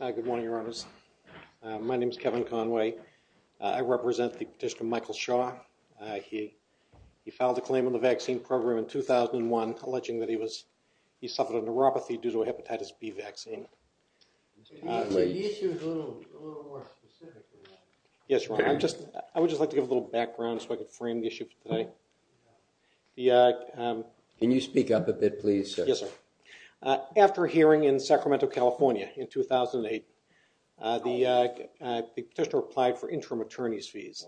Good morning, Your Honors. My name is Kevin Conway. I represent the petitioner Michael Shaw. He filed a claim on the vaccine program in 2001 alleging that he suffered a neuropathy due to a hepatitis B vaccine. The issue is a little more specific. Yes, Your Honor. I would just like to give a little background so I can frame the issue today. Can you speak up a bit, please? Yes, sir. After a hearing in Sacramento, California in 2008, the petitioner applied for interim attorney's fees.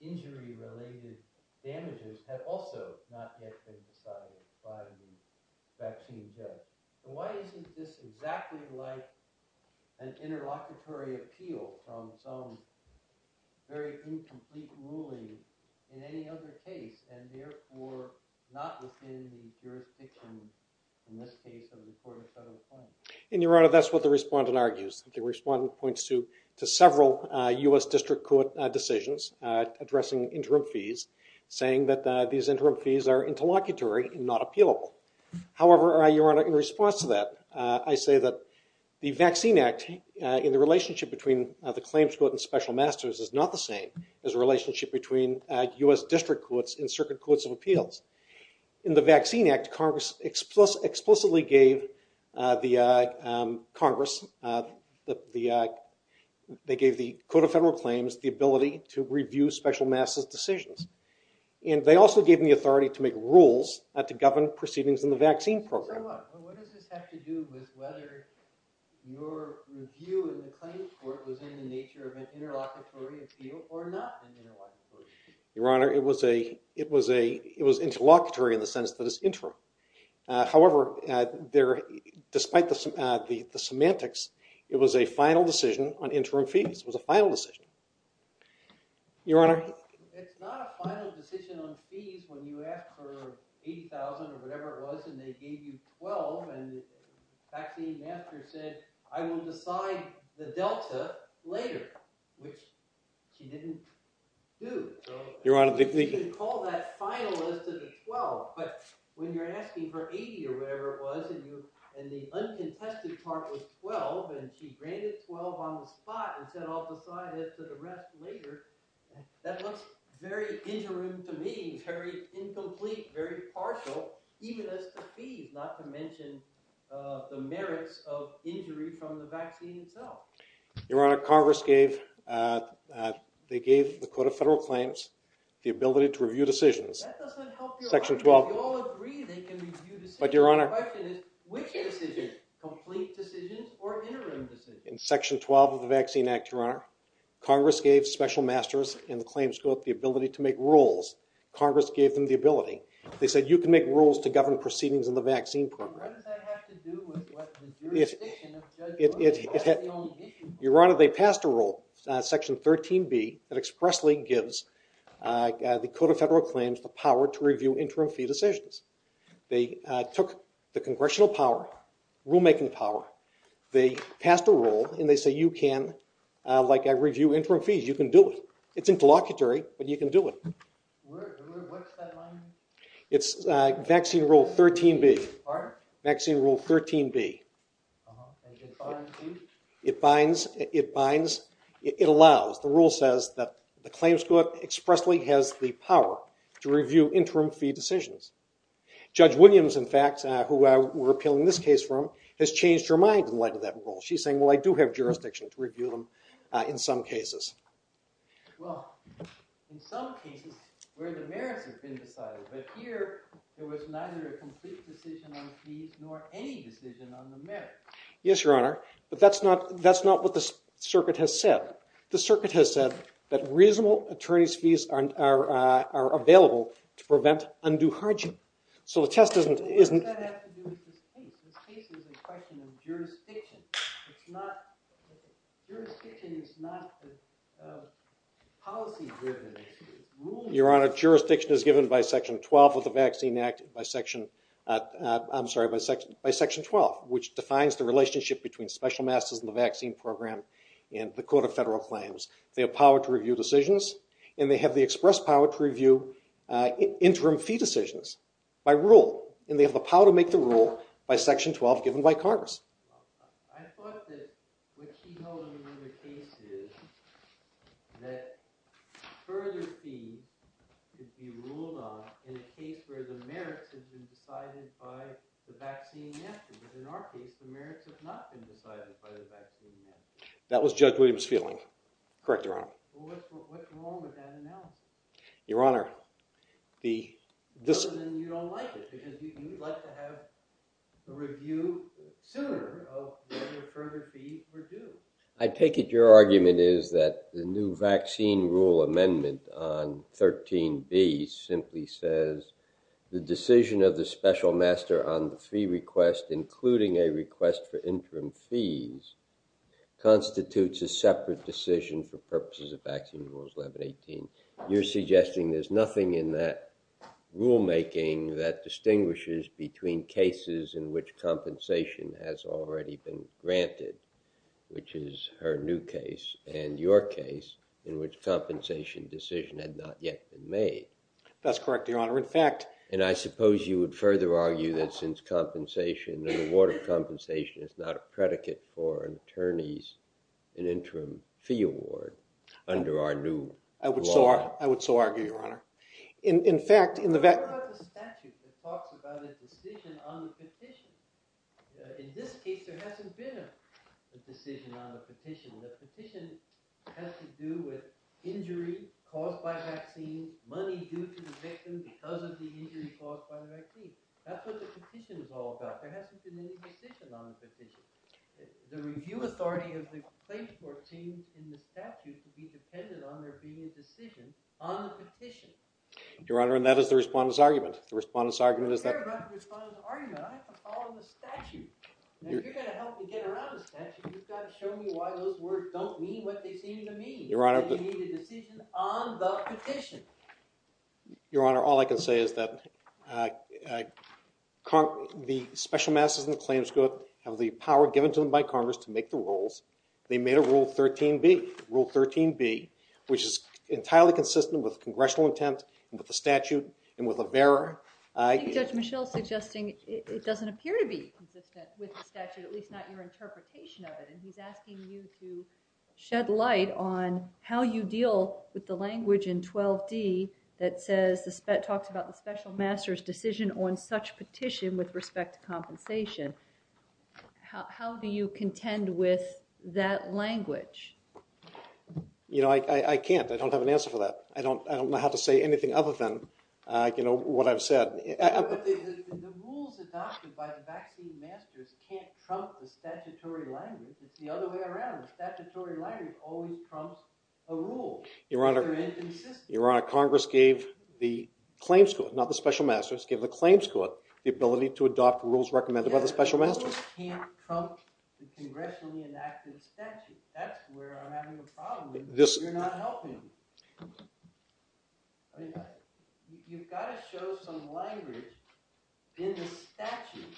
Injury related damages have also not yet been decided by the vaccine judge. Why is this exactly like an interlocutory appeal from some very incomplete ruling in any other case and therefore not within the jurisdiction in this case of the court of federal attorney? And Your Honor, that's what the respondent argues. The respondent points to several U.S. district court decisions addressing interim fees, saying that these interim fees are interlocutory and not appealable. However, Your Honor, in response to that, I say that the Vaccine Act in the relationship between the claims court and special masters is not the same as the relationship between U.S. district courts and circuit courts of appeals. In the Vaccine Act, Congress explicitly gave the Congress, they gave the Code of Federal Claims the ability to review special masters decisions. And they also gave me authority to make rules to govern proceedings in the vaccine program. So what does this have to do with whether your review in the claims court was in the nature of an interlocutory appeal or not? Your Honor, it was interlocutory in the sense that it was interim. However, despite the semantics, it was a final decision on interim fees. It was a final decision. Your Honor? It's not a final decision on fees when you ask for $80,000 or whatever it was and they gave you $12,000 and the vaccine master said, I will decide the delta later, which she didn't do. You can call that final as to the $12,000. But when you're asking for $80,000 or whatever it was, and the uncontested part was $12,000 and she granted $12,000 on the spot and said, I'll decide it for the rest later. That looks very interim to me, very incomplete, very partial, even as to fees, not to mention the merits of injury from the vaccine itself. Your Honor, Congress gave, they gave the Court of Federal Claims the ability to review decisions. Section 12. But Your Honor, in Section 12 of the Vaccine Act, Your Honor, Congress gave special masters in the claims court the ability to make rules. Congress gave them the ability. They said, you can make rules to govern proceedings in the vaccine program. Your Honor, they passed a rule, Section 13B, that expressly gives the Code of Federal Claims the power to review interim fee decisions. They took the congressional power, rulemaking power, they passed a rule and they say, you can, like I review interim fees, you can do it. It's interlocutory, but you can do it. What's that line? It's Vaccine Rule 13B. Pardon? Vaccine Rule 13B. It binds, it binds, it allows, the rule says that the claims court expressly has the power to review interim fee decisions. Judge Williams, in fact, who we're appealing this case from, has changed her mind in light of that rule. She's saying, well, I do have jurisdiction to review in some cases. Well, in some cases where the merits have been decided, but here there was neither a complete decision on fees nor any decision on the merits. Yes, Your Honor, but that's not what the circuit has said. The circuit has said that reasonable attorney's are available to prevent undue harm. So the test isn't... Your Honor, jurisdiction is given by Section 12 of the Vaccine Act, by Section, I'm sorry, by Section 12, which defines the relationship between special masters and the vaccine program and the court of federal claims. They have power to review decisions, and they have the express power to review interim fee decisions by rule, and they have the power to make the rule by Section 12 given by Congress. I thought that what she held in another case is that further fees could be ruled on in a case where the merits have been decided by the vaccine method, but in our case, the merits have not been decided by the vaccine method. That was Judge Williams' feeling. Correct, Your Honor. Your Honor, the... I take it your argument is that the new vaccine rule amendment on 13b simply says, the decision of the special master on the fee request, including a request for interim fees, constitutes a separate decision for purposes of vaccine rules 1118. You're suggesting there's nothing in that rulemaking that distinguishes between cases in which compensation has already been granted, which is her new case and your case in which compensation decision had not yet been made. That's correct, Your Honor. In fact... And I suppose you would further argue that since an award of compensation is not a predicate for an attorney's interim fee award under our new... I would so argue, Your Honor. In fact, in the... What about the statute that talks about a decision on the petition? In this case, there hasn't been a decision on the petition. The petition has to do with injury caused by vaccine, money due to the victim because of the injury caused by the vaccine. That's what the petition is all about. There hasn't been any decision on the petition. The review authority of the plaintiff court seems in the statute to be dependent on there being a decision on the petition. Your Honor, and that is the respondent's argument. The respondent's argument is that... I don't care about the respondent's argument. I have to follow the statute. If you're going to help me get around the statute, you've got to show me why those words don't mean what they seem to mean. Your Honor, all I can say is that the special masses in the claims court have the power given to them by Congress to make the rules. They made a Rule 13B, Rule 13B, which is entirely consistent with congressional intent, with the statute, and with a bearer. I think Judge Mischel is suggesting it doesn't appear to be consistent with the statute, at least not your interpretation of it. He's asking you to shed light on how you deal with the language in 12D that talks about the special master's decision on such petition with respect to compensation. How do you contend with that language? I can't. I don't have an answer for that. I don't know how to say anything other than what I've said. The rules adopted by the vaccine masters can't trump the statutory language. It's the other way around. Statutory language always trumps a rule. Your Honor, Congress gave the claims court, not the special masters, gave the claims court the ability to adopt rules recommended by the special masters. It can't trump the congressionally enacted statute. That's where I'm having a problem. You're not helping me. You've got to show some language in the statute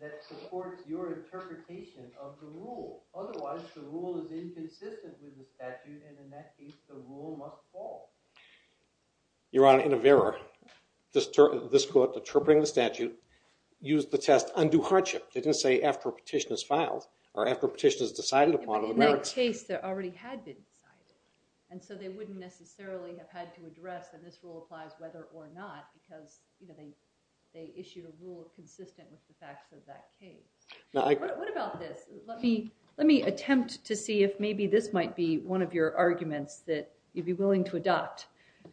that supports your interpretation of the rule. Otherwise, the rule is inconsistent with the statute, and in that case, the rule must fall. Your Honor, in a bearer, this court, interpreting the statute, used the test, undue hardship. They didn't say after a petition is filed or after a petition is decided upon. In that case, it already had been decided, and so they wouldn't necessarily have had to address that this rule applies whether or not because they issued a rule consistent with the facts of that case. What about this? Let me attempt to see if maybe this might be one of your arguments that you'd be willing to adopt.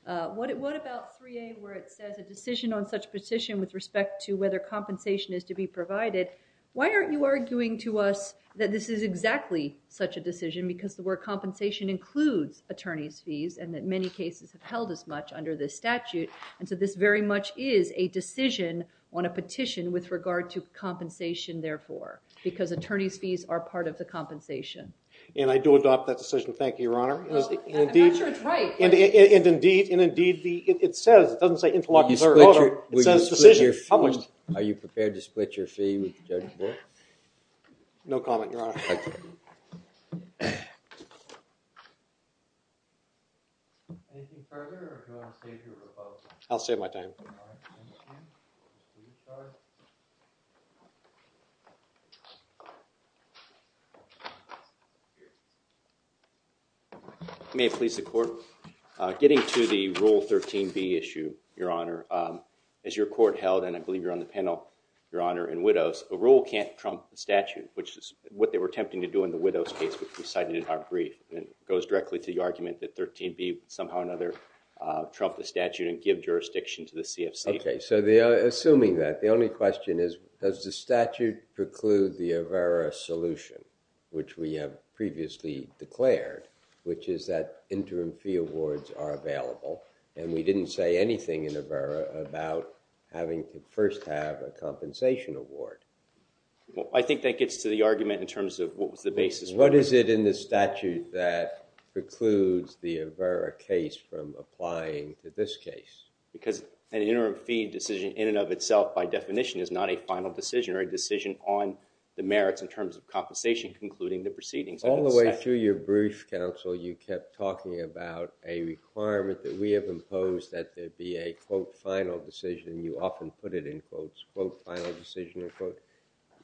What about 3A where it says a decision on such petition with respect to whether compensation is to be provided? Why aren't you arguing to us that this is exactly such a decision because the word compensation includes attorney's fees and that many cases have held as much under this statute, and so this very much is a decision on a petition with regard to compensation, therefore, because attorney's fees are part of the compensation? I do adopt that decision. Thank you, Your Honor. I'm not sure it's right. Indeed, it says, it doesn't say interlocking decision. Are you prepared to split your fee with the judge? No comment, Your Honor. Thank you. Anything further, or do you want to stay through the vote? I'll save my time. May it please the Court. Getting to the Rule 13b issue, Your Honor, as your Court held, and I believe you're on the panel, Your Honor, in Widows, a rule can't trump the statute, which is what we're attempting to do in the Widows case, which we cited in our brief, and it goes directly to the argument that 13b would somehow or another trump the statute and give jurisdiction to the CFC. Okay, so assuming that, the only question is, does the statute preclude the AVERA solution, which we have previously declared, which is that interim fee awards are available, and we didn't say anything in AVERA about having to first have a compensation award? Well, I think that gets to the argument in terms of what was the basis. What is it in the statute that precludes the AVERA case from applying to this case? Because an interim fee decision in and of itself, by definition, is not a final decision or a decision on the merits in terms of compensation concluding the proceedings. All the way through your brief, counsel, you kept talking about a requirement that we have imposed that there be a, quote, final decision. You often put it in quotes, quote, final decision, unquote.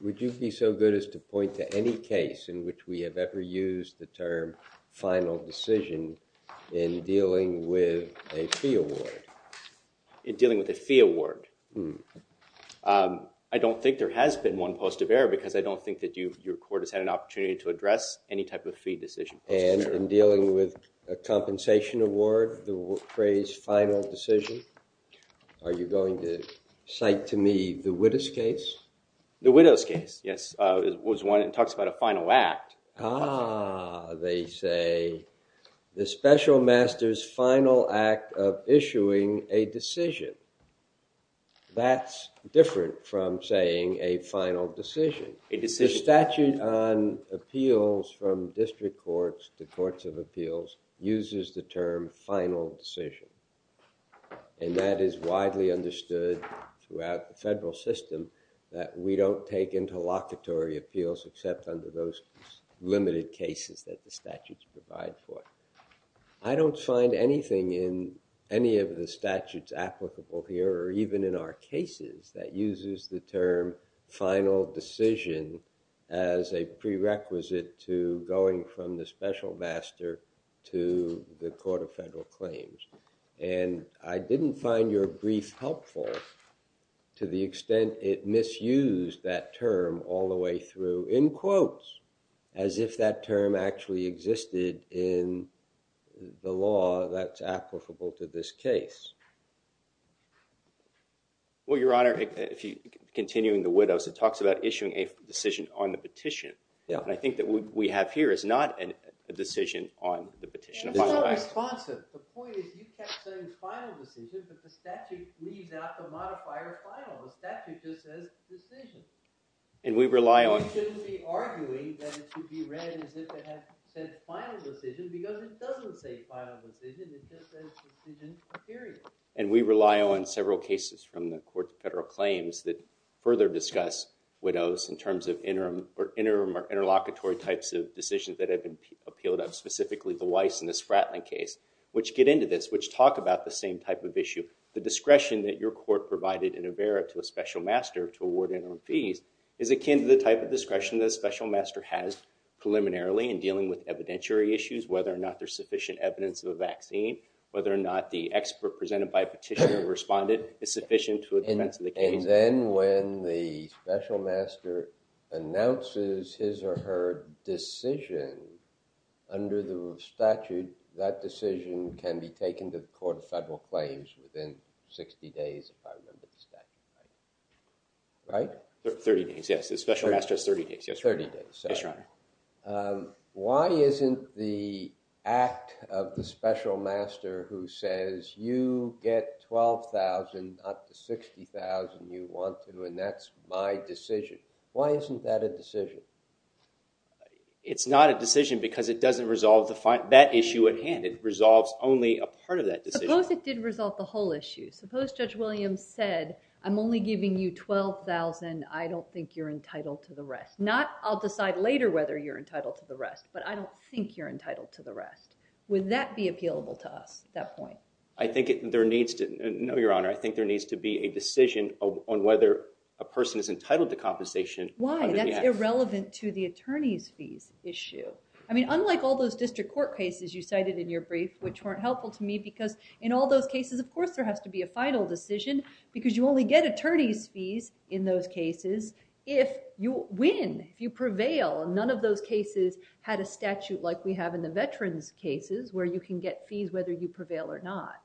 Would you be so good as to point to any case in which we have ever used the term final decision in dealing with a fee award? In dealing with a fee award? I don't think there has been one post of error because I don't think that your court has had an opportunity to address any type of fee decision. And in dealing with a compensation award, the widow's case, yes, was one that talks about a final act. Ah, they say the special master's final act of issuing a decision. That's different from saying a final decision. The statute on appeals from district courts to courts of appeals uses the term final decision. And that is widely understood throughout the federal system that we don't take into locatory appeals except under those limited cases that the statutes provide for. I don't find anything in any of the statutes applicable here or even in our cases that uses the term final decision as a prerequisite to going from the special master to the court of federal claims. And I didn't find your brief helpful to the extent it misused that term all the way through, in quotes, as if that term actually existed in the law that's applicable to this case. Well, Your Honor, continuing the widows, it talks about issuing a decision on the petition. And I think that what we have here is not a decision on the petition. It's not responsive. The point is you kept saying final decision, but the statute leaves out the modifier final. The statute just says decision. And we rely on- You shouldn't be arguing that it should be read as if it had said final decision because it doesn't say final decision. It just says decision period. And we rely on several cases from the court of federal claims that further discuss widows in terms of interim or interlocutory types of decisions that have been appealed up, specifically the Weiss and the Spratling case, which get into this, which talk about the same type of issue. The discretion that your court provided in OBERA to a special master to award interim fees is akin to the type of discretion that a special master has preliminarily in dealing with evidentiary issues, whether or not there's sufficient evidence of a vaccine, whether or not the expert presented by a petitioner responded is sufficient to advance the case. And then when the special master announces his or her decision under the statute, that decision can be taken to the court of federal claims within 60 days, if I remember the statute right. Right? 30 days, yes. The special master has 30 days. 30 days. Yes, Your Honor. Why isn't the act of the special master who says, you get $12,000, not the $60,000 you want to, and that's my decision. Why isn't that a decision? It's not a decision because it doesn't resolve that issue at hand. It resolves only a part of that decision. Suppose it did resolve the whole issue. Suppose Judge Williams said, I'm only giving you $12,000. I don't think you're entitled to the rest. I'll decide later whether you're entitled to the rest, but I don't think you're entitled to the rest. Would that be appealable to us at that point? I think there needs to be a decision on whether a person is entitled to compensation. Why? That's irrelevant to the attorney's fees issue. I mean, unlike all those district court cases you cited in your brief, which weren't helpful to me, because in all those cases, of course, there has to be a final decision because you only get attorney's fees in those cases if you win, if you prevail. None of those cases had a statute like we have in the veterans' cases, where you can get fees whether you prevail or not.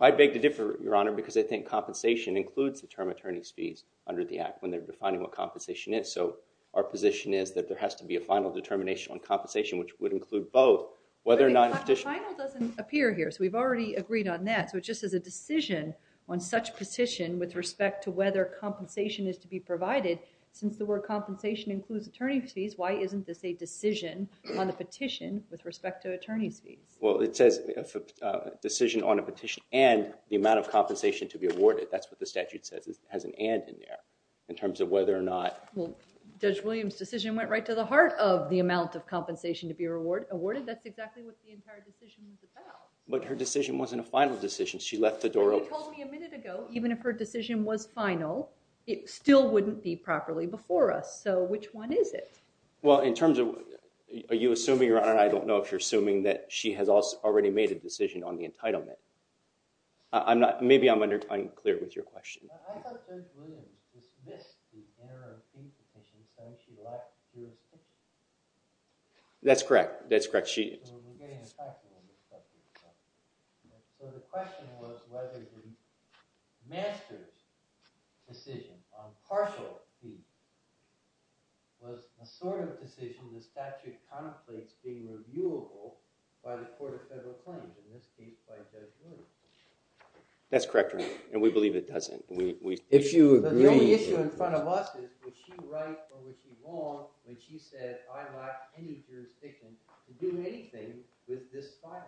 I beg to differ, Your Honor, because I think compensation includes the term attorney's fees under the Act when they're defining what compensation is. So our position is that there has to be a final determination on compensation, which would include both, whether or not a petition— The final doesn't appear here, so we've already agreed on that. So it just is a decision on such petition with respect to whether compensation is to be provided. Since the word compensation includes attorney's fees, why isn't this a decision on the petition with respect to attorney's fees? Well, it says decision on a petition and the amount of compensation to be awarded. That's what the statute says. It has an and in there in terms of whether or not— Well, Judge Williams' decision went right to the heart of the amount of compensation to be awarded. That's exactly what the entire decision was about. But her decision wasn't a final decision. She left the door open. You told me a minute ago, even if her decision was final, it still wouldn't be properly before us. So which one is it? Well, in terms of— Are you assuming, Your Honor, and I don't know if you're assuming that she has already made a decision on the entitlement. Maybe I'm unclear with your question. I thought Judge Williams just missed the error of fees because she said she left to a petition. That's correct. That's correct. We're getting a question. So the question was whether the master's decision on partial fees was the sort of decision the statute contemplates being reviewable by the Court of Federal Claims, in this case, by Judge Williams. That's correct, Your Honor, and we believe it doesn't. If you agree— But the only issue in front of us is, was she right or was she wrong when she said, I lack any jurisdiction to do anything with this file?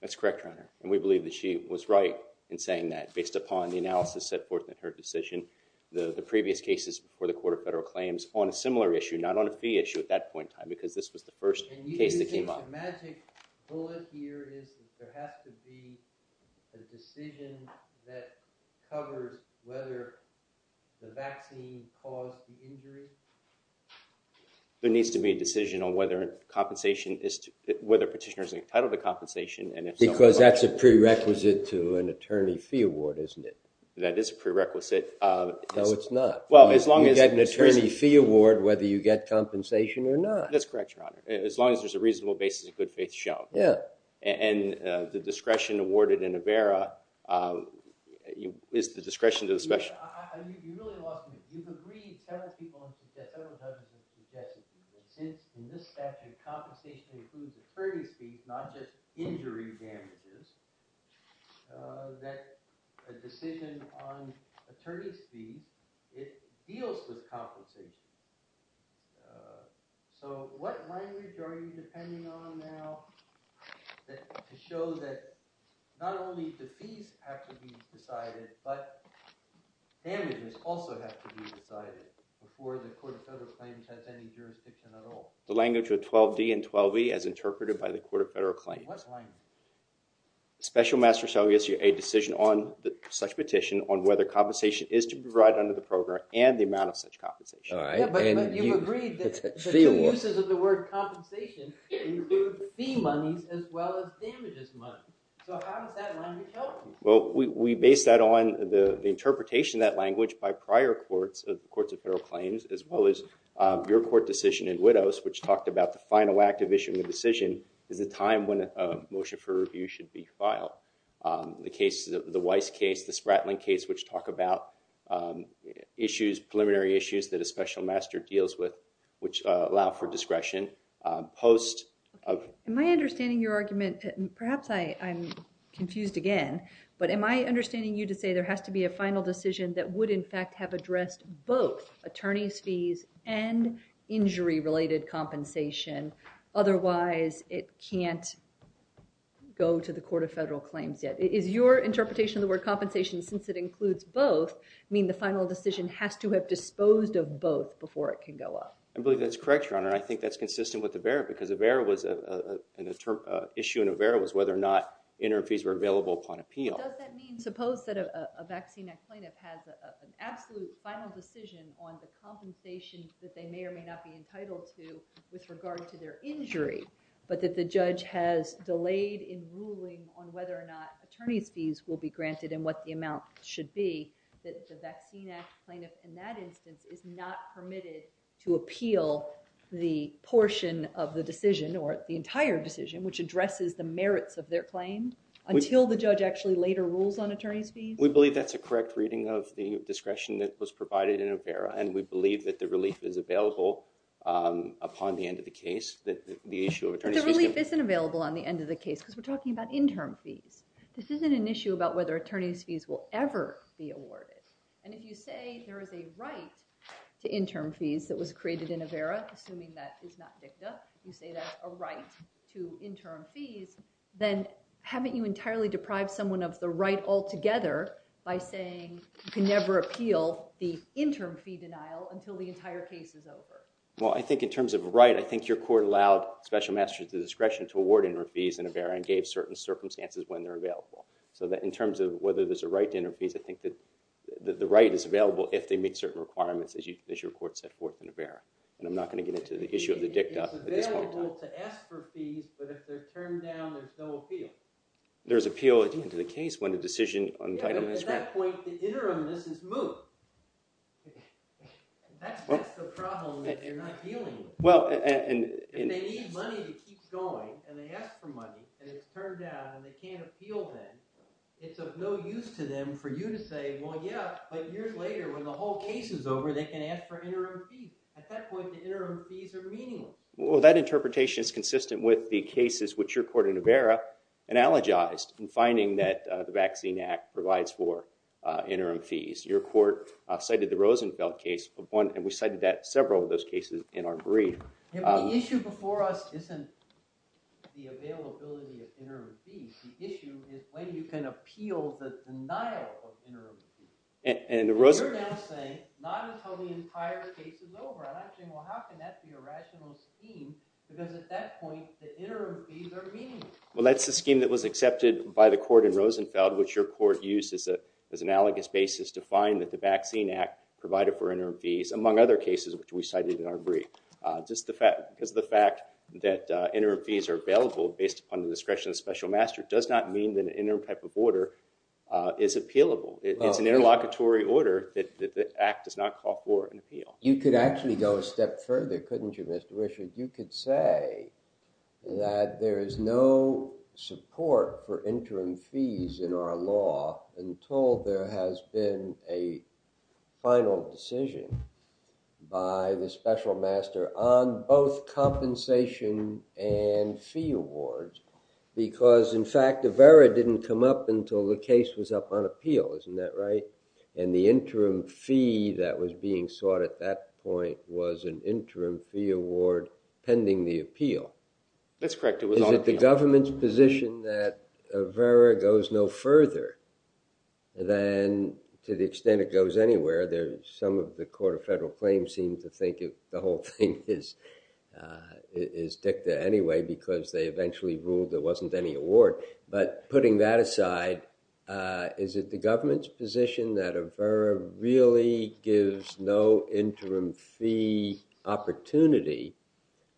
That's correct, Your Honor, and we believe that she was right in saying that. Based upon the analysis set forth in her decision, the previous cases before the Court of Federal Claims on a similar issue, not on a fee issue at that point in time, because this was the first case that came up. And you think the magic bullet here is that there has to be a decision that covers whether the vaccine caused the injury? There needs to be a decision on whether a petitioner is entitled to compensation and— Because that's a prerequisite to an attorney fee award, isn't it? That is a prerequisite. No, it's not. Well, as long as— You get an attorney fee award whether you get compensation or not. That's correct, Your Honor, as long as there's a reasonable basis of good faith show. Yeah. And the discretion awarded in Avera is the discretion to the special— Your Honor, you really lost me. You've agreed several times with the deputy that since, in this statute, compensation includes attorney's fees, not just injury damages, that a decision on attorney's fees, it deals with compensation. So, what language are you depending on now to show that not only the fees have to be decided, but damages also have to be decided before the Court of Federal Claims has any jurisdiction at all? The language of 12d and 12e as interpreted by the Court of Federal Claims. What language? Special Master shall give you a decision on such petition on whether compensation is to be provided under the program and the amount of such compensation. But you've agreed that the two uses of the word compensation include fee monies as well as damages monies. So, how does that language help me? Well, we base that on the interpretation of that language by prior courts, of the Courts of Federal Claims, as well as your court decision in Widdows, which talked about the final act of issuing the decision is the time when a motion for review should be filed. The Weiss case, the Spratling case, which talk about issues, preliminary issues that a Special Master deals with, which allow for discretion. Am I understanding your argument, perhaps I'm confused again, but am I understanding you to say there has to be a final decision that would in fact have addressed both attorney's fees and injury-related compensation? Otherwise, it can't go to the Court of Federal Claims yet. Is your interpretation of the word compensation, since it includes both, mean the final decision has to have disposed of both before it can go up? I believe that's correct, Your Honor. I think that's consistent with Avera because Avera was, in the term, issue in Avera was whether or not interim fees were available upon appeal. But does that mean, suppose that a vaccine act plaintiff has an absolute final decision on the compensation that they may or may not be entitled to with regard to their injury, but that the judge has delayed in ruling on whether or not attorney's fees will be granted and what the amount should be, that the vaccine act plaintiff, in that instance, is not permitted to appeal the portion of the decision or the entire decision, which addresses the merits of their claim, until the judge actually later rules on attorney's fees? We believe that's a correct reading of the discretion that was provided in Avera, and we believe that the relief is available upon the end of the case. The relief isn't available on the end of the case because we're talking about interim fees. This isn't an issue about whether attorney's fees will ever be awarded. And if you say there is a right to interim fees that was created in Avera, assuming that is not dicta, you say that's a right to interim fees, then haven't you entirely deprived someone of the right altogether by saying you can never appeal the interim fee denial until the entire case is over? Well, I think in terms of a right, I think your court allowed special masters the discretion to award interim fees in Avera and gave certain circumstances when they're available. So that in terms of whether there's a right to interim fees, I think that the right is available if they meet certain requirements, as your court set forth in Avera. And I'm not going to get into the issue of the dicta at this point in time. It's available to ask for fees, but if they're turned down, there's no appeal. There's appeal at the end of the case when the decision on entitlement is granted. But at that point, the interimness is moved. That's the problem that they're not dealing with. If they need money to keep going, and they ask for money, and it's turned down, and they can't appeal then, it's of no use to them for you to say, well, yeah, but years later when the whole case is over, they can ask for interim fees. At that point, the interim fees are meaningless. Well, that interpretation is consistent with the cases which your court in Avera analogized in finding that the Vaccine Act provides for interim fees. Your court cited the Rosenfeld case, and we cited several of those cases in our brief. Yeah, but the issue before us isn't the availability of interim fees. The issue is when you can appeal the denial of interim fees. And you're now saying not until the entire case is over. I'm asking, well, how can that be a rational scheme? Because at that point, the interim fees are meaningless. Well, that's the scheme that was accepted by the court in Rosenfeld, which your court used as an analogous basis to find that the Vaccine Act provided for interim fees, among other cases which we cited in our brief. Because the fact that interim fees are available based upon the discretion of special master does not mean that an interim type of order is appealable. It's an interlocutory order that the act does not call for an appeal. You could actually go a step further, couldn't you, Mr. Richard? You could say that there is no support for interim fees in our law until there has been a final decision by the special master on both compensation and fee awards. Because, in fact, Avera didn't come up until the case was up on appeal. Isn't that right? And the interim fee that was being sought at that point was an interim fee award pending the appeal. That's correct. Is it the government's position that Avera goes no further than to the extent it goes anywhere? Some of the Court of Federal Claims seem to think the whole thing is dicta anyway because they eventually ruled there wasn't any award. But putting that aside, is it the government's position that Avera really gives no interim fee opportunity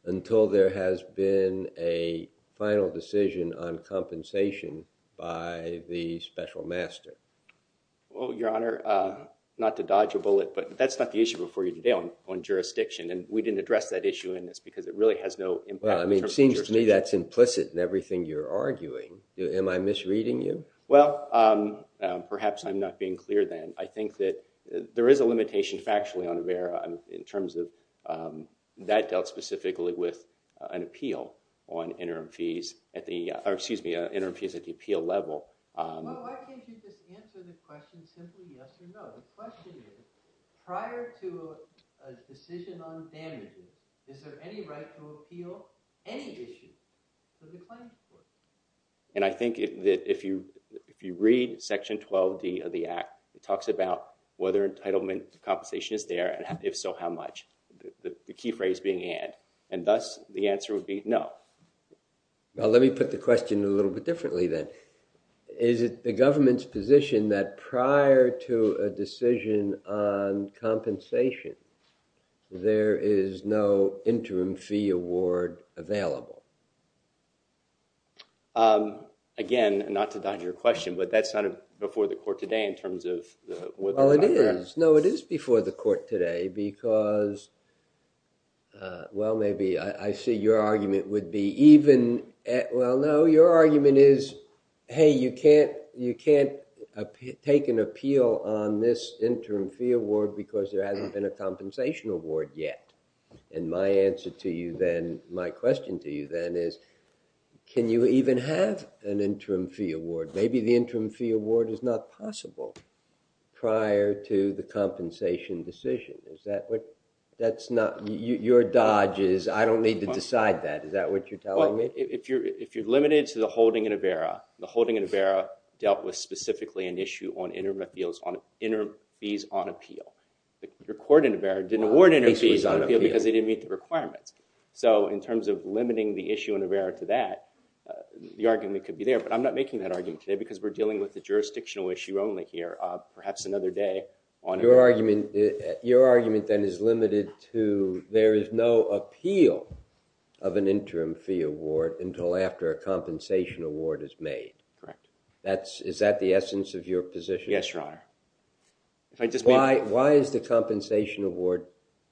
until there has been a final decision on compensation by the special master? Well, Your Honor, not to dodge a bullet, but that's not the issue before you today on jurisdiction. And we didn't address that issue in this because it really has no impact. I mean, it seems to me that's implicit in everything you're arguing. Am I misreading you? Well, perhaps I'm not being clear then. I think that there is a limitation factually on Avera in terms of that dealt specifically with an appeal on interim fees at the— or excuse me, interim fees at the appeal level. Well, why can't you just answer the question simply yes or no? The question is, prior to a decision on damages, is there any right to appeal any issue to the claims court? And I think that if you read section 12 of the Act, it talks about whether entitlement compensation is there and if so, how much? The key phrase being and. And thus, the answer would be no. Well, let me put the question a little bit differently then. Is it the government's position that prior to a decision on compensation, there is no interim fee award available? Again, not to dodge your question, but that's not before the court today in terms of whether— Well, it is. No, it is before the court today because, well, maybe I see your argument would be even— well, no, your argument is, hey, you can't take an appeal on this interim fee award because there hasn't been a compensation award yet. And my answer to you then, my question to you then is, can you even have an interim fee award? Maybe the interim fee award is not possible prior to the compensation decision. Is that what— that's not— your dodge is, I don't need to decide that. Is that what you're telling me? If you're limited to the holding in AVERA, the holding in AVERA dealt with specifically an issue on interim fees on appeal. The court in AVERA didn't award interim fees on appeal because they didn't meet the requirements. So in terms of limiting the issue in AVERA to that, the argument could be there, but I'm not making that argument today because we're dealing with the jurisdictional issue only here. Perhaps another day on AVERA. Your argument then is limited to there is no appeal of an interim fee award until after a compensation award is made. Correct. That's— is that the essence of your position? Yes, Your Honor. Why is the compensation award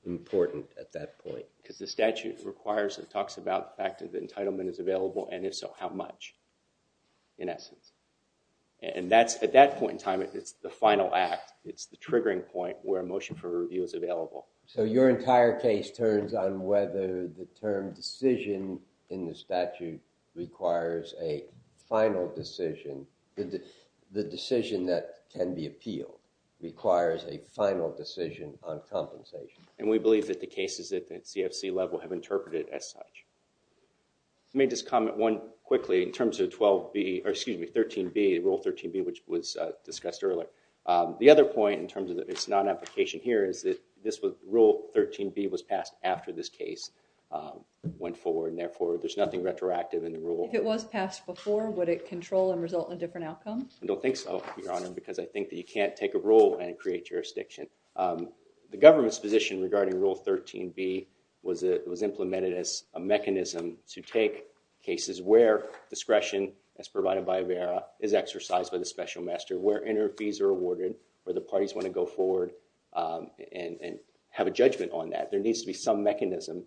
important at that point? Because the statute requires and talks about the fact that the entitlement is available and if so, how much in essence? And that's— at that point in time, it's the final act. It's the triggering point where a motion for review is available. So your entire case turns on whether the term decision in the statute requires a final decision. The decision that can be appealed requires a final decision on compensation. And we believe that the cases at the CFC level have interpreted as such. I may just comment one quickly in terms of 12B— or excuse me, 13B, Rule 13B, which was discussed earlier. The other point in terms of its non-application here is that this was— Rule 13B was passed after this case went forward and therefore there's nothing retroactive in the rule. If it was passed before, would it control and result in a different outcome? I don't think so, Your Honor, because I think that you can't take a rule and create jurisdiction. The government's position regarding Rule 13B was implemented as a mechanism to take cases where discretion, as provided by AVERA, is exercised by the special master, where interim fees are awarded, where the parties want to go forward and have a judgment on that. There needs to be some mechanism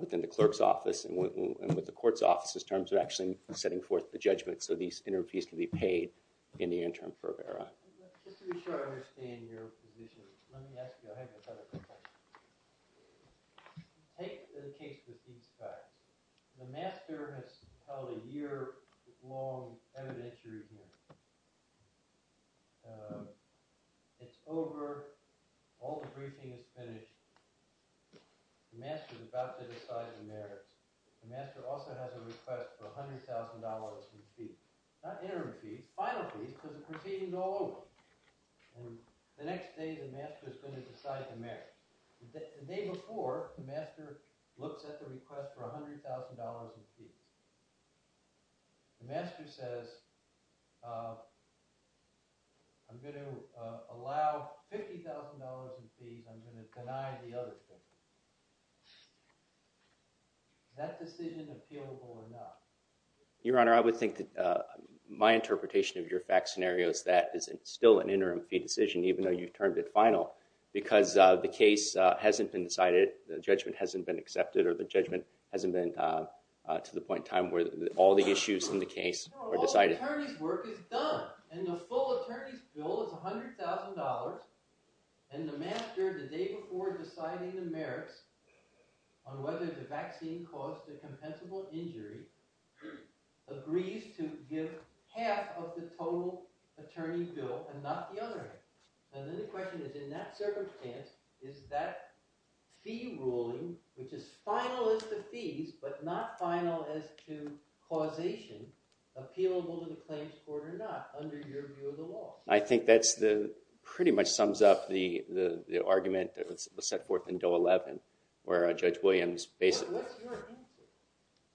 within the clerk's office and with the court's office in terms of actually setting forth the judgment so these interim fees can be paid in the interim for AVERA. Just to be sure I understand your position, let me ask you a hypothetical question. Take the case of Eastside. The master has held a year-long evidentiary hearing. It's over. All the briefing is finished. The master's about to decide the matter. The master also has a request for $100,000 in fees. Not interim fees, final fees, because it's proceeding all over. And the next day, the master's going to decide the matter. The day before, the master looks at the request for $100,000 in fees. The master says, I'm going to allow $50,000 in fees. I'm going to deny the other thing. Is that decision appealable or not? Your Honor, I would think that my interpretation of your fact scenario is that it's still an interim fee decision, even though you've termed it final, because the case hasn't been decided, the judgment hasn't been accepted, or the judgment hasn't been to the point in time where all the issues in the case were decided. All the attorney's work is done, and the full attorney's bill is $100,000. And the master, the day before deciding the merits on whether the vaccine caused a compensable injury, agrees to give half of the total attorney's bill and not the other half. And then the question is, in that circumstance, is that fee ruling, which is final as to fees, but not final as to causation, appealable to the claims court or not under your view of the law? I think that pretty much sums up the argument that was set forth in Doe 11, where Judge Williams basically- What's your answer?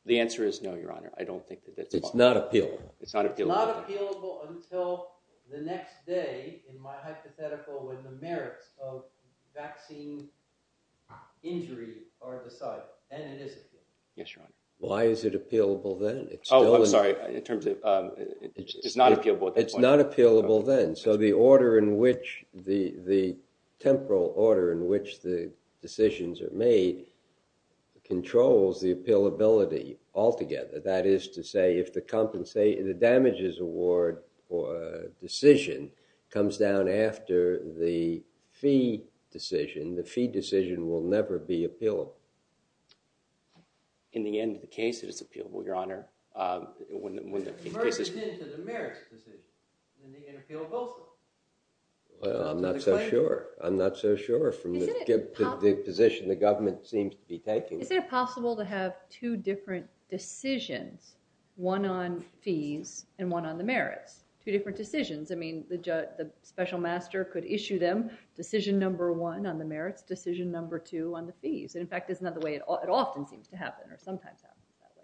The answer is no, Your Honor, I don't think that that's- It's not appealable. It's not appealable. Not appealable until the next day, in my hypothetical, when the merits of vaccine injury are decided, and it is appealable. Yes, Your Honor. Why is it appealable then? Oh, I'm sorry, in terms of- It's not appealable at that point. It's not appealable then. So the order in which, the temporal order in which the decisions are made controls the appealability altogether. That is to say, if the damages award for a decision comes down after the fee decision, the fee decision will never be appealable. In the end of the case, it is appealable, Your Honor, when the case is- It merges into the merits decision. In the end, it's appealable also. Well, I'm not so sure. I'm not so sure from the position the government seems to be taking- Is it possible to have two different decisions, one on fees and one on the merits? Two different decisions. I mean, the special master could issue them decision number one on the merits, decision number two on the fees. And in fact, that's not the way it often seems to happen, or sometimes happens that way.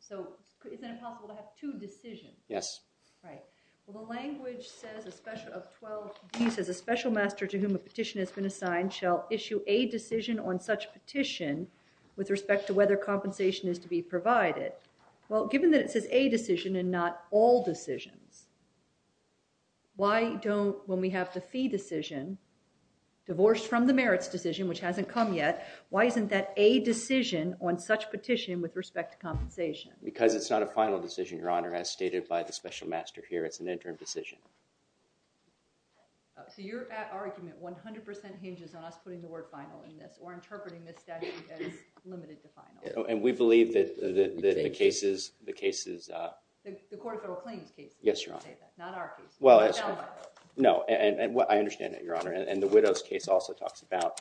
So is it possible to have two decisions? Yes. Right. Well, the language says, a special- Of 12, he says, a special master to whom a petition has been assigned shall issue a decision on such petition with respect to whether compensation is to be provided. Well, given that it says a decision and not all decisions, why don't, when we have the fee decision, divorced from the merits decision, which hasn't come yet, why isn't that a decision on such petition with respect to compensation? Because it's not a final decision, Your Honor, as stated by the special master here. It's an interim decision. So your argument 100% hinges on us putting the word final in this, or interpreting this statute as limited to final. And we believe that the cases- You think? The cases- The court of oral claims case. Yes, Your Honor. Not our case. Well, it's- No, no. No, and I understand that, Your Honor. And the widow's case also talks about,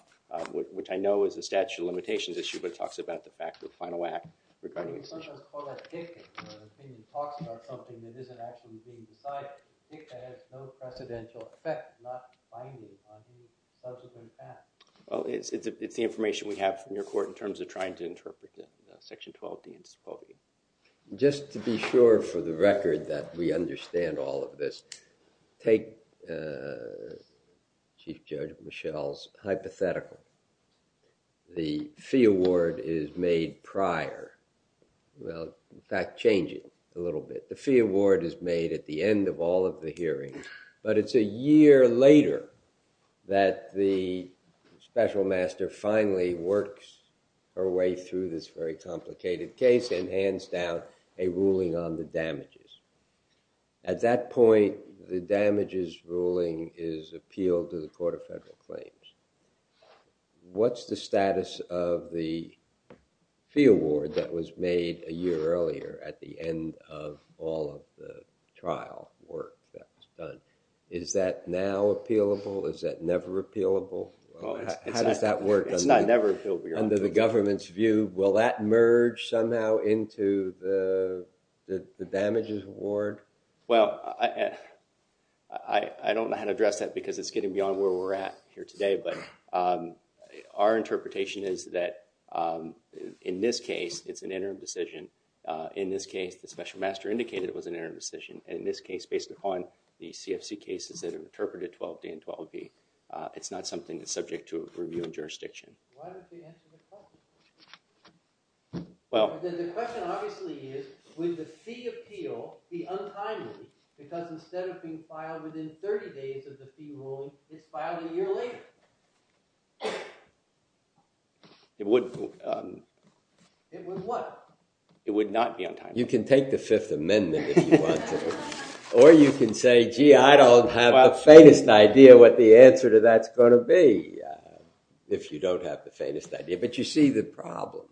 which I know is a statute of limitations issue, but it talks about the fact of final act regarding a decision. Sometimes called a dictum, where the opinion talks about something that isn't actually being decided. Dicta has no precedential effect, not binding on the subject and act. Well, it's the information we have from your court in terms of trying to interpret the section 12D and so forth. Just to be sure for the record that we understand all of this, take Chief Judge Michel's hypothetical. The fee award is made prior. Well, in fact, change it a little bit. The fee award is made at the end of all of the hearings, but it's a year later that the special master finally works her way through this very complicated case and hands down a ruling on the damages. At that point, the damages ruling is appealed to the Court of Federal Claims. What's the status of the fee award that was made a year earlier at the end of all of the trial work that was done? Is that now appealable? Is that never appealable? How does that work? It's not never appealable. Under the government's view, will that merge somehow into the damages award? Well, I don't know how to address that because it's getting beyond where we're at here today, but our interpretation is that in this case, it's an interim decision. In this case, the special master indicated it was an interim decision. In this case, based upon the CFC cases that are interpreted 12D and 12B, it's not something that's subject to review and jurisdiction. Why don't they answer the question? Well, the question obviously is, would the fee appeal be untimely? Because instead of being filed within 30 days of the fee rule, it's filed a year later. It would what? It would not be untimely. You can take the Fifth Amendment if you want to, or you can say, gee, I don't have the faintest idea what the answer to that's going to be, if you don't have the faintest idea. But you see the problem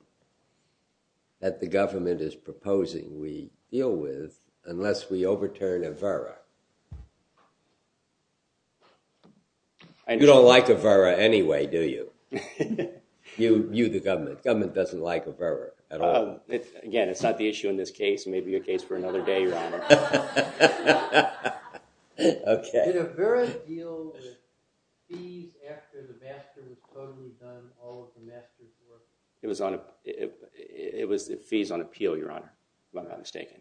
that the government is proposing we deal with unless we overturn AVERA. You don't like AVERA anyway, do you? You, the government. Government doesn't like AVERA at all. Again, it's not the issue in this case. It may be a case for another day, Your Honor. Okay. Did AVERA deal with fees after the bastard was totally done all of the master's work? It was fees on appeal, Your Honor, if I'm not mistaken.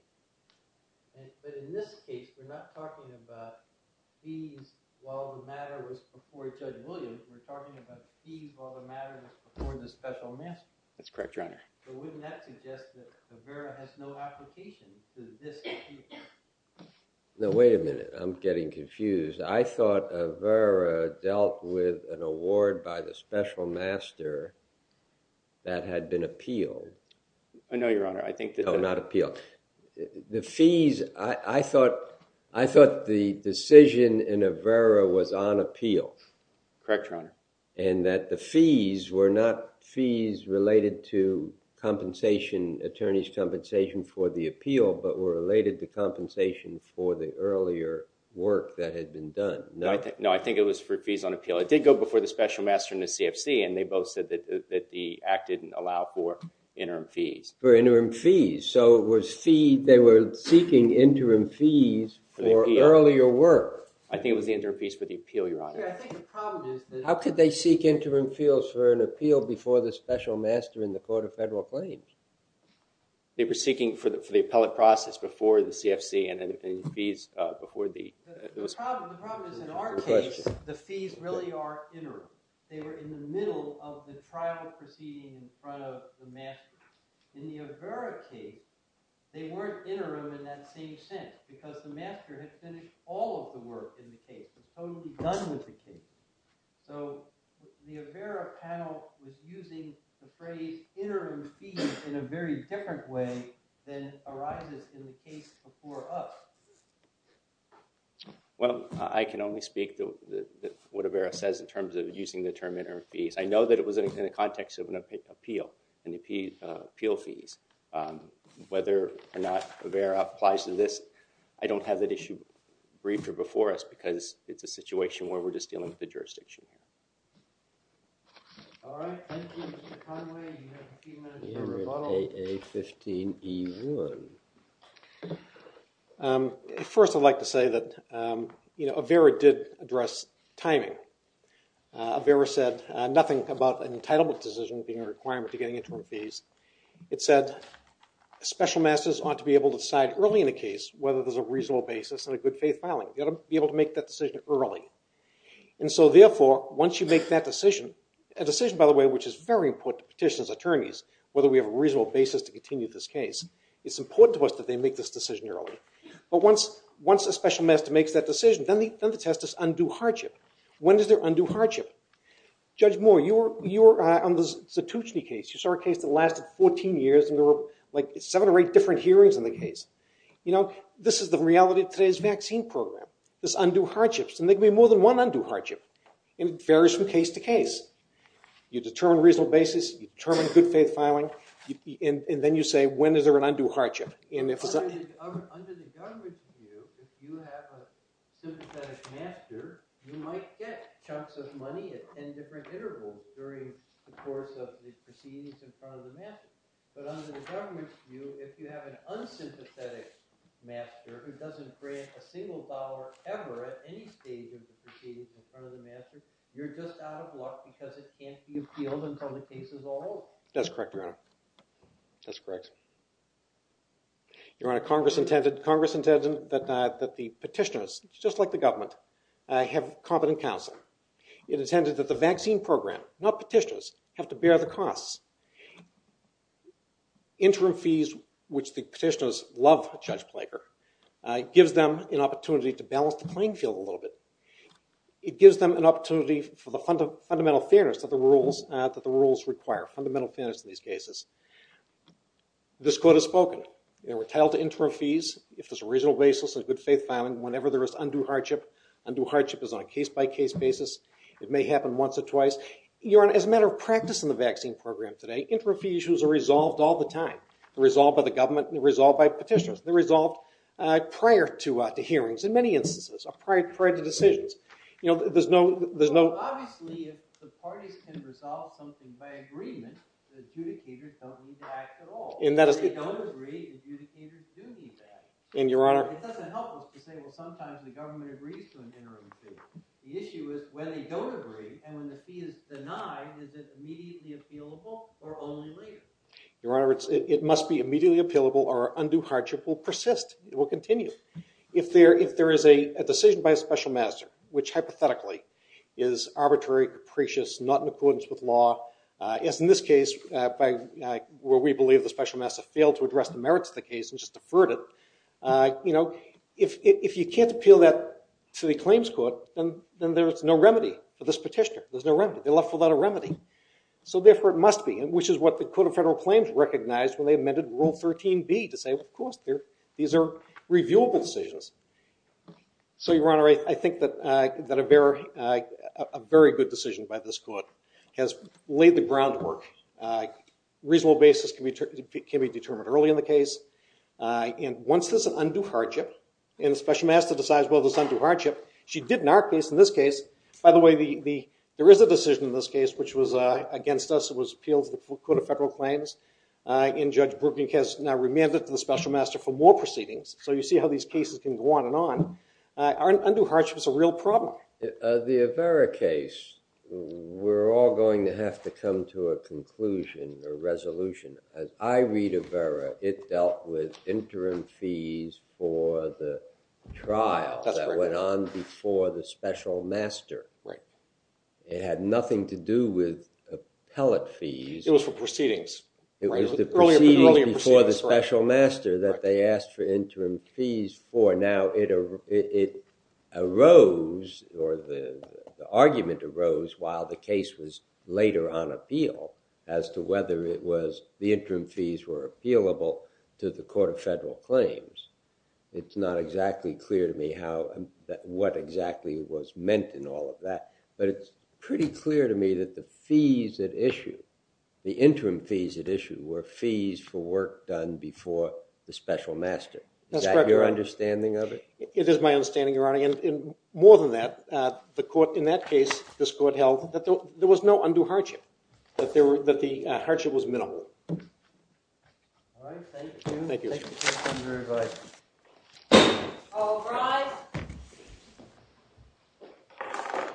But in this case, we're not talking about fees while the matter was before Judge Williams. We're talking about fees while the matter was before the special master. That's correct, Your Honor. So wouldn't that suggest that AVERA has no application to this issue? Now, wait a minute. I'm getting confused. I thought AVERA dealt with an award by the special master that had been appealed. Oh, no, Your Honor. I think that— No, not appealed. The fees, I thought the decision in AVERA was on appeal. Correct, Your Honor. And that the fees were not fees related to compensation, attorney's compensation for the appeal, but were related to compensation for the earlier work that had been done. No, I think it was for fees on appeal. It did go before the special master and the CFC, and they both said that the act didn't allow for interim fees. For interim fees. So it was fee— they were seeking interim fees for earlier work. I think it was the interim fees for the appeal, Your Honor. See, I think the problem is— How could they seek interim fees for an appeal before the special master in the court of federal claims? They were seeking for the appellate process before the CFC, and then the fees before the— The problem is, in our case, the fees really are interim. They were in the middle of the trial proceeding in front of the master. In the Avera case, they weren't interim in that same sense, because the master has finished all of the work in the case. It's totally done with the case. So the Avera panel is using the phrase interim fees in a very different way than arises in the case before us. Well, I can only speak to what Avera says in terms of using the term interim fees. I know that it was in the context of an appeal, and the appeal fees. Whether or not Avera applies to this, I don't have that issue briefed or before us, because it's a situation where we're just dealing with the jurisdiction. All right. Thank you, Mr. Conway. You have a few minutes for rebuttal. A15E1. First, I'd like to say that Avera did address timing. Avera said nothing about an entitlement decision being a requirement to getting interim fees. It said special masters ought to be able to decide early in a case whether there's a reasonable basis and a good faith filing. You ought to be able to make that decision early. And so therefore, once you make that decision, a decision, by the way, which is very important to petitioners, attorneys, whether we have a reasonable basis to continue this case, it's important to us that they make this decision early. But once a special master makes that decision, then the test is undue hardship. When is there undue hardship? Judge Moore, you were on the Satushni case. You saw a case that lasted 14 years, and there were like seven or eight different hearings in the case. You know, this is the reality of today's vaccine program. There's undue hardships. And there can be more than one undue hardship. And it varies from case to case. You determine a reasonable basis. You determine good faith filing. And then you say, when is there an undue hardship? Under the government's view, if you have a sympathetic master, you might get chunks of money at 10 different intervals during the course of the proceedings in front of the master. But under the government's view, if you have an unsympathetic master who doesn't grant a single dollar ever at any stage of the proceedings in front of the master, you're just out of luck because it can't be appealed until the case is all over. That's correct, Your Honor. That's correct. Your Honor, Congress intended that the petitioners, just like the government, have competent counsel. It intended that the vaccine program, not petitioners, have to bear the costs. Interim fees, which the petitioners love Judge Plager, gives them an opportunity to balance the playing field a little bit. It gives them an opportunity for the fundamental fairness that the rules require, fundamental fairness in these cases. This court has spoken. They were entitled to interim fees if there's a reasonable basis and good faith filing whenever there is undue hardship. Undue hardship is on a case-by-case basis. It may happen once or twice. Your Honor, as a matter of practice in the vaccine program today, interim fee issues are resolved all the time. They're resolved by the government. They're resolved by petitioners. They're resolved prior to hearings, in many instances, or prior to decisions. You know, there's no- Obviously, if the parties can resolve something by agreement, the adjudicators don't need to act at all. If they don't agree, the adjudicators do need to act. And, Your Honor- It doesn't help us to say, well, sometimes the government agrees to an interim fee. The issue is when they don't agree and when the fee is denied, is it immediately appealable or only later? Your Honor, it must be immediately appealable or undue hardship will persist. It will continue. It's not in accordance with law, as in this case, where we believe the special master failed to address the merits of the case and just deferred it. You know, if you can't appeal that to the claims court, then there's no remedy for this petitioner. There's no remedy. They're left without a remedy. So, therefore, it must be, which is what the Court of Federal Claims recognized when they amended Rule 13b to say, of course, these are reviewable decisions. So, Your Honor, I think that a very good decision by this court has laid the groundwork. Reasonable basis can be determined early in the case. And once there's an undue hardship and the special master decides, well, there's undue hardship, she did in our case, in this case- By the way, there is a decision in this case, which was against us. It was appealed to the Court of Federal Claims. And Judge Brucknick has now remanded to the special master for more proceedings. So you see how these cases can go on and on. Undue hardship is a real problem. The Avera case, we're all going to have to come to a conclusion, a resolution. As I read Avera, it dealt with interim fees for the trial that went on before the special master. It had nothing to do with appellate fees. It was for proceedings. It was the proceedings before the special master that they asked for fees for. Now, it arose, or the argument arose while the case was later on appeal as to whether it was the interim fees were appealable to the Court of Federal Claims. It's not exactly clear to me what exactly was meant in all of that. But it's pretty clear to me that the fees at issue, the interim fees at issue, were fees for work done before the special master. Is that your understanding of it? It is my understanding, Your Honor. And more than that, in that case, this Court held that there was no undue hardship. That the hardship was minimal. All right. Thank you. Thank you. All rise.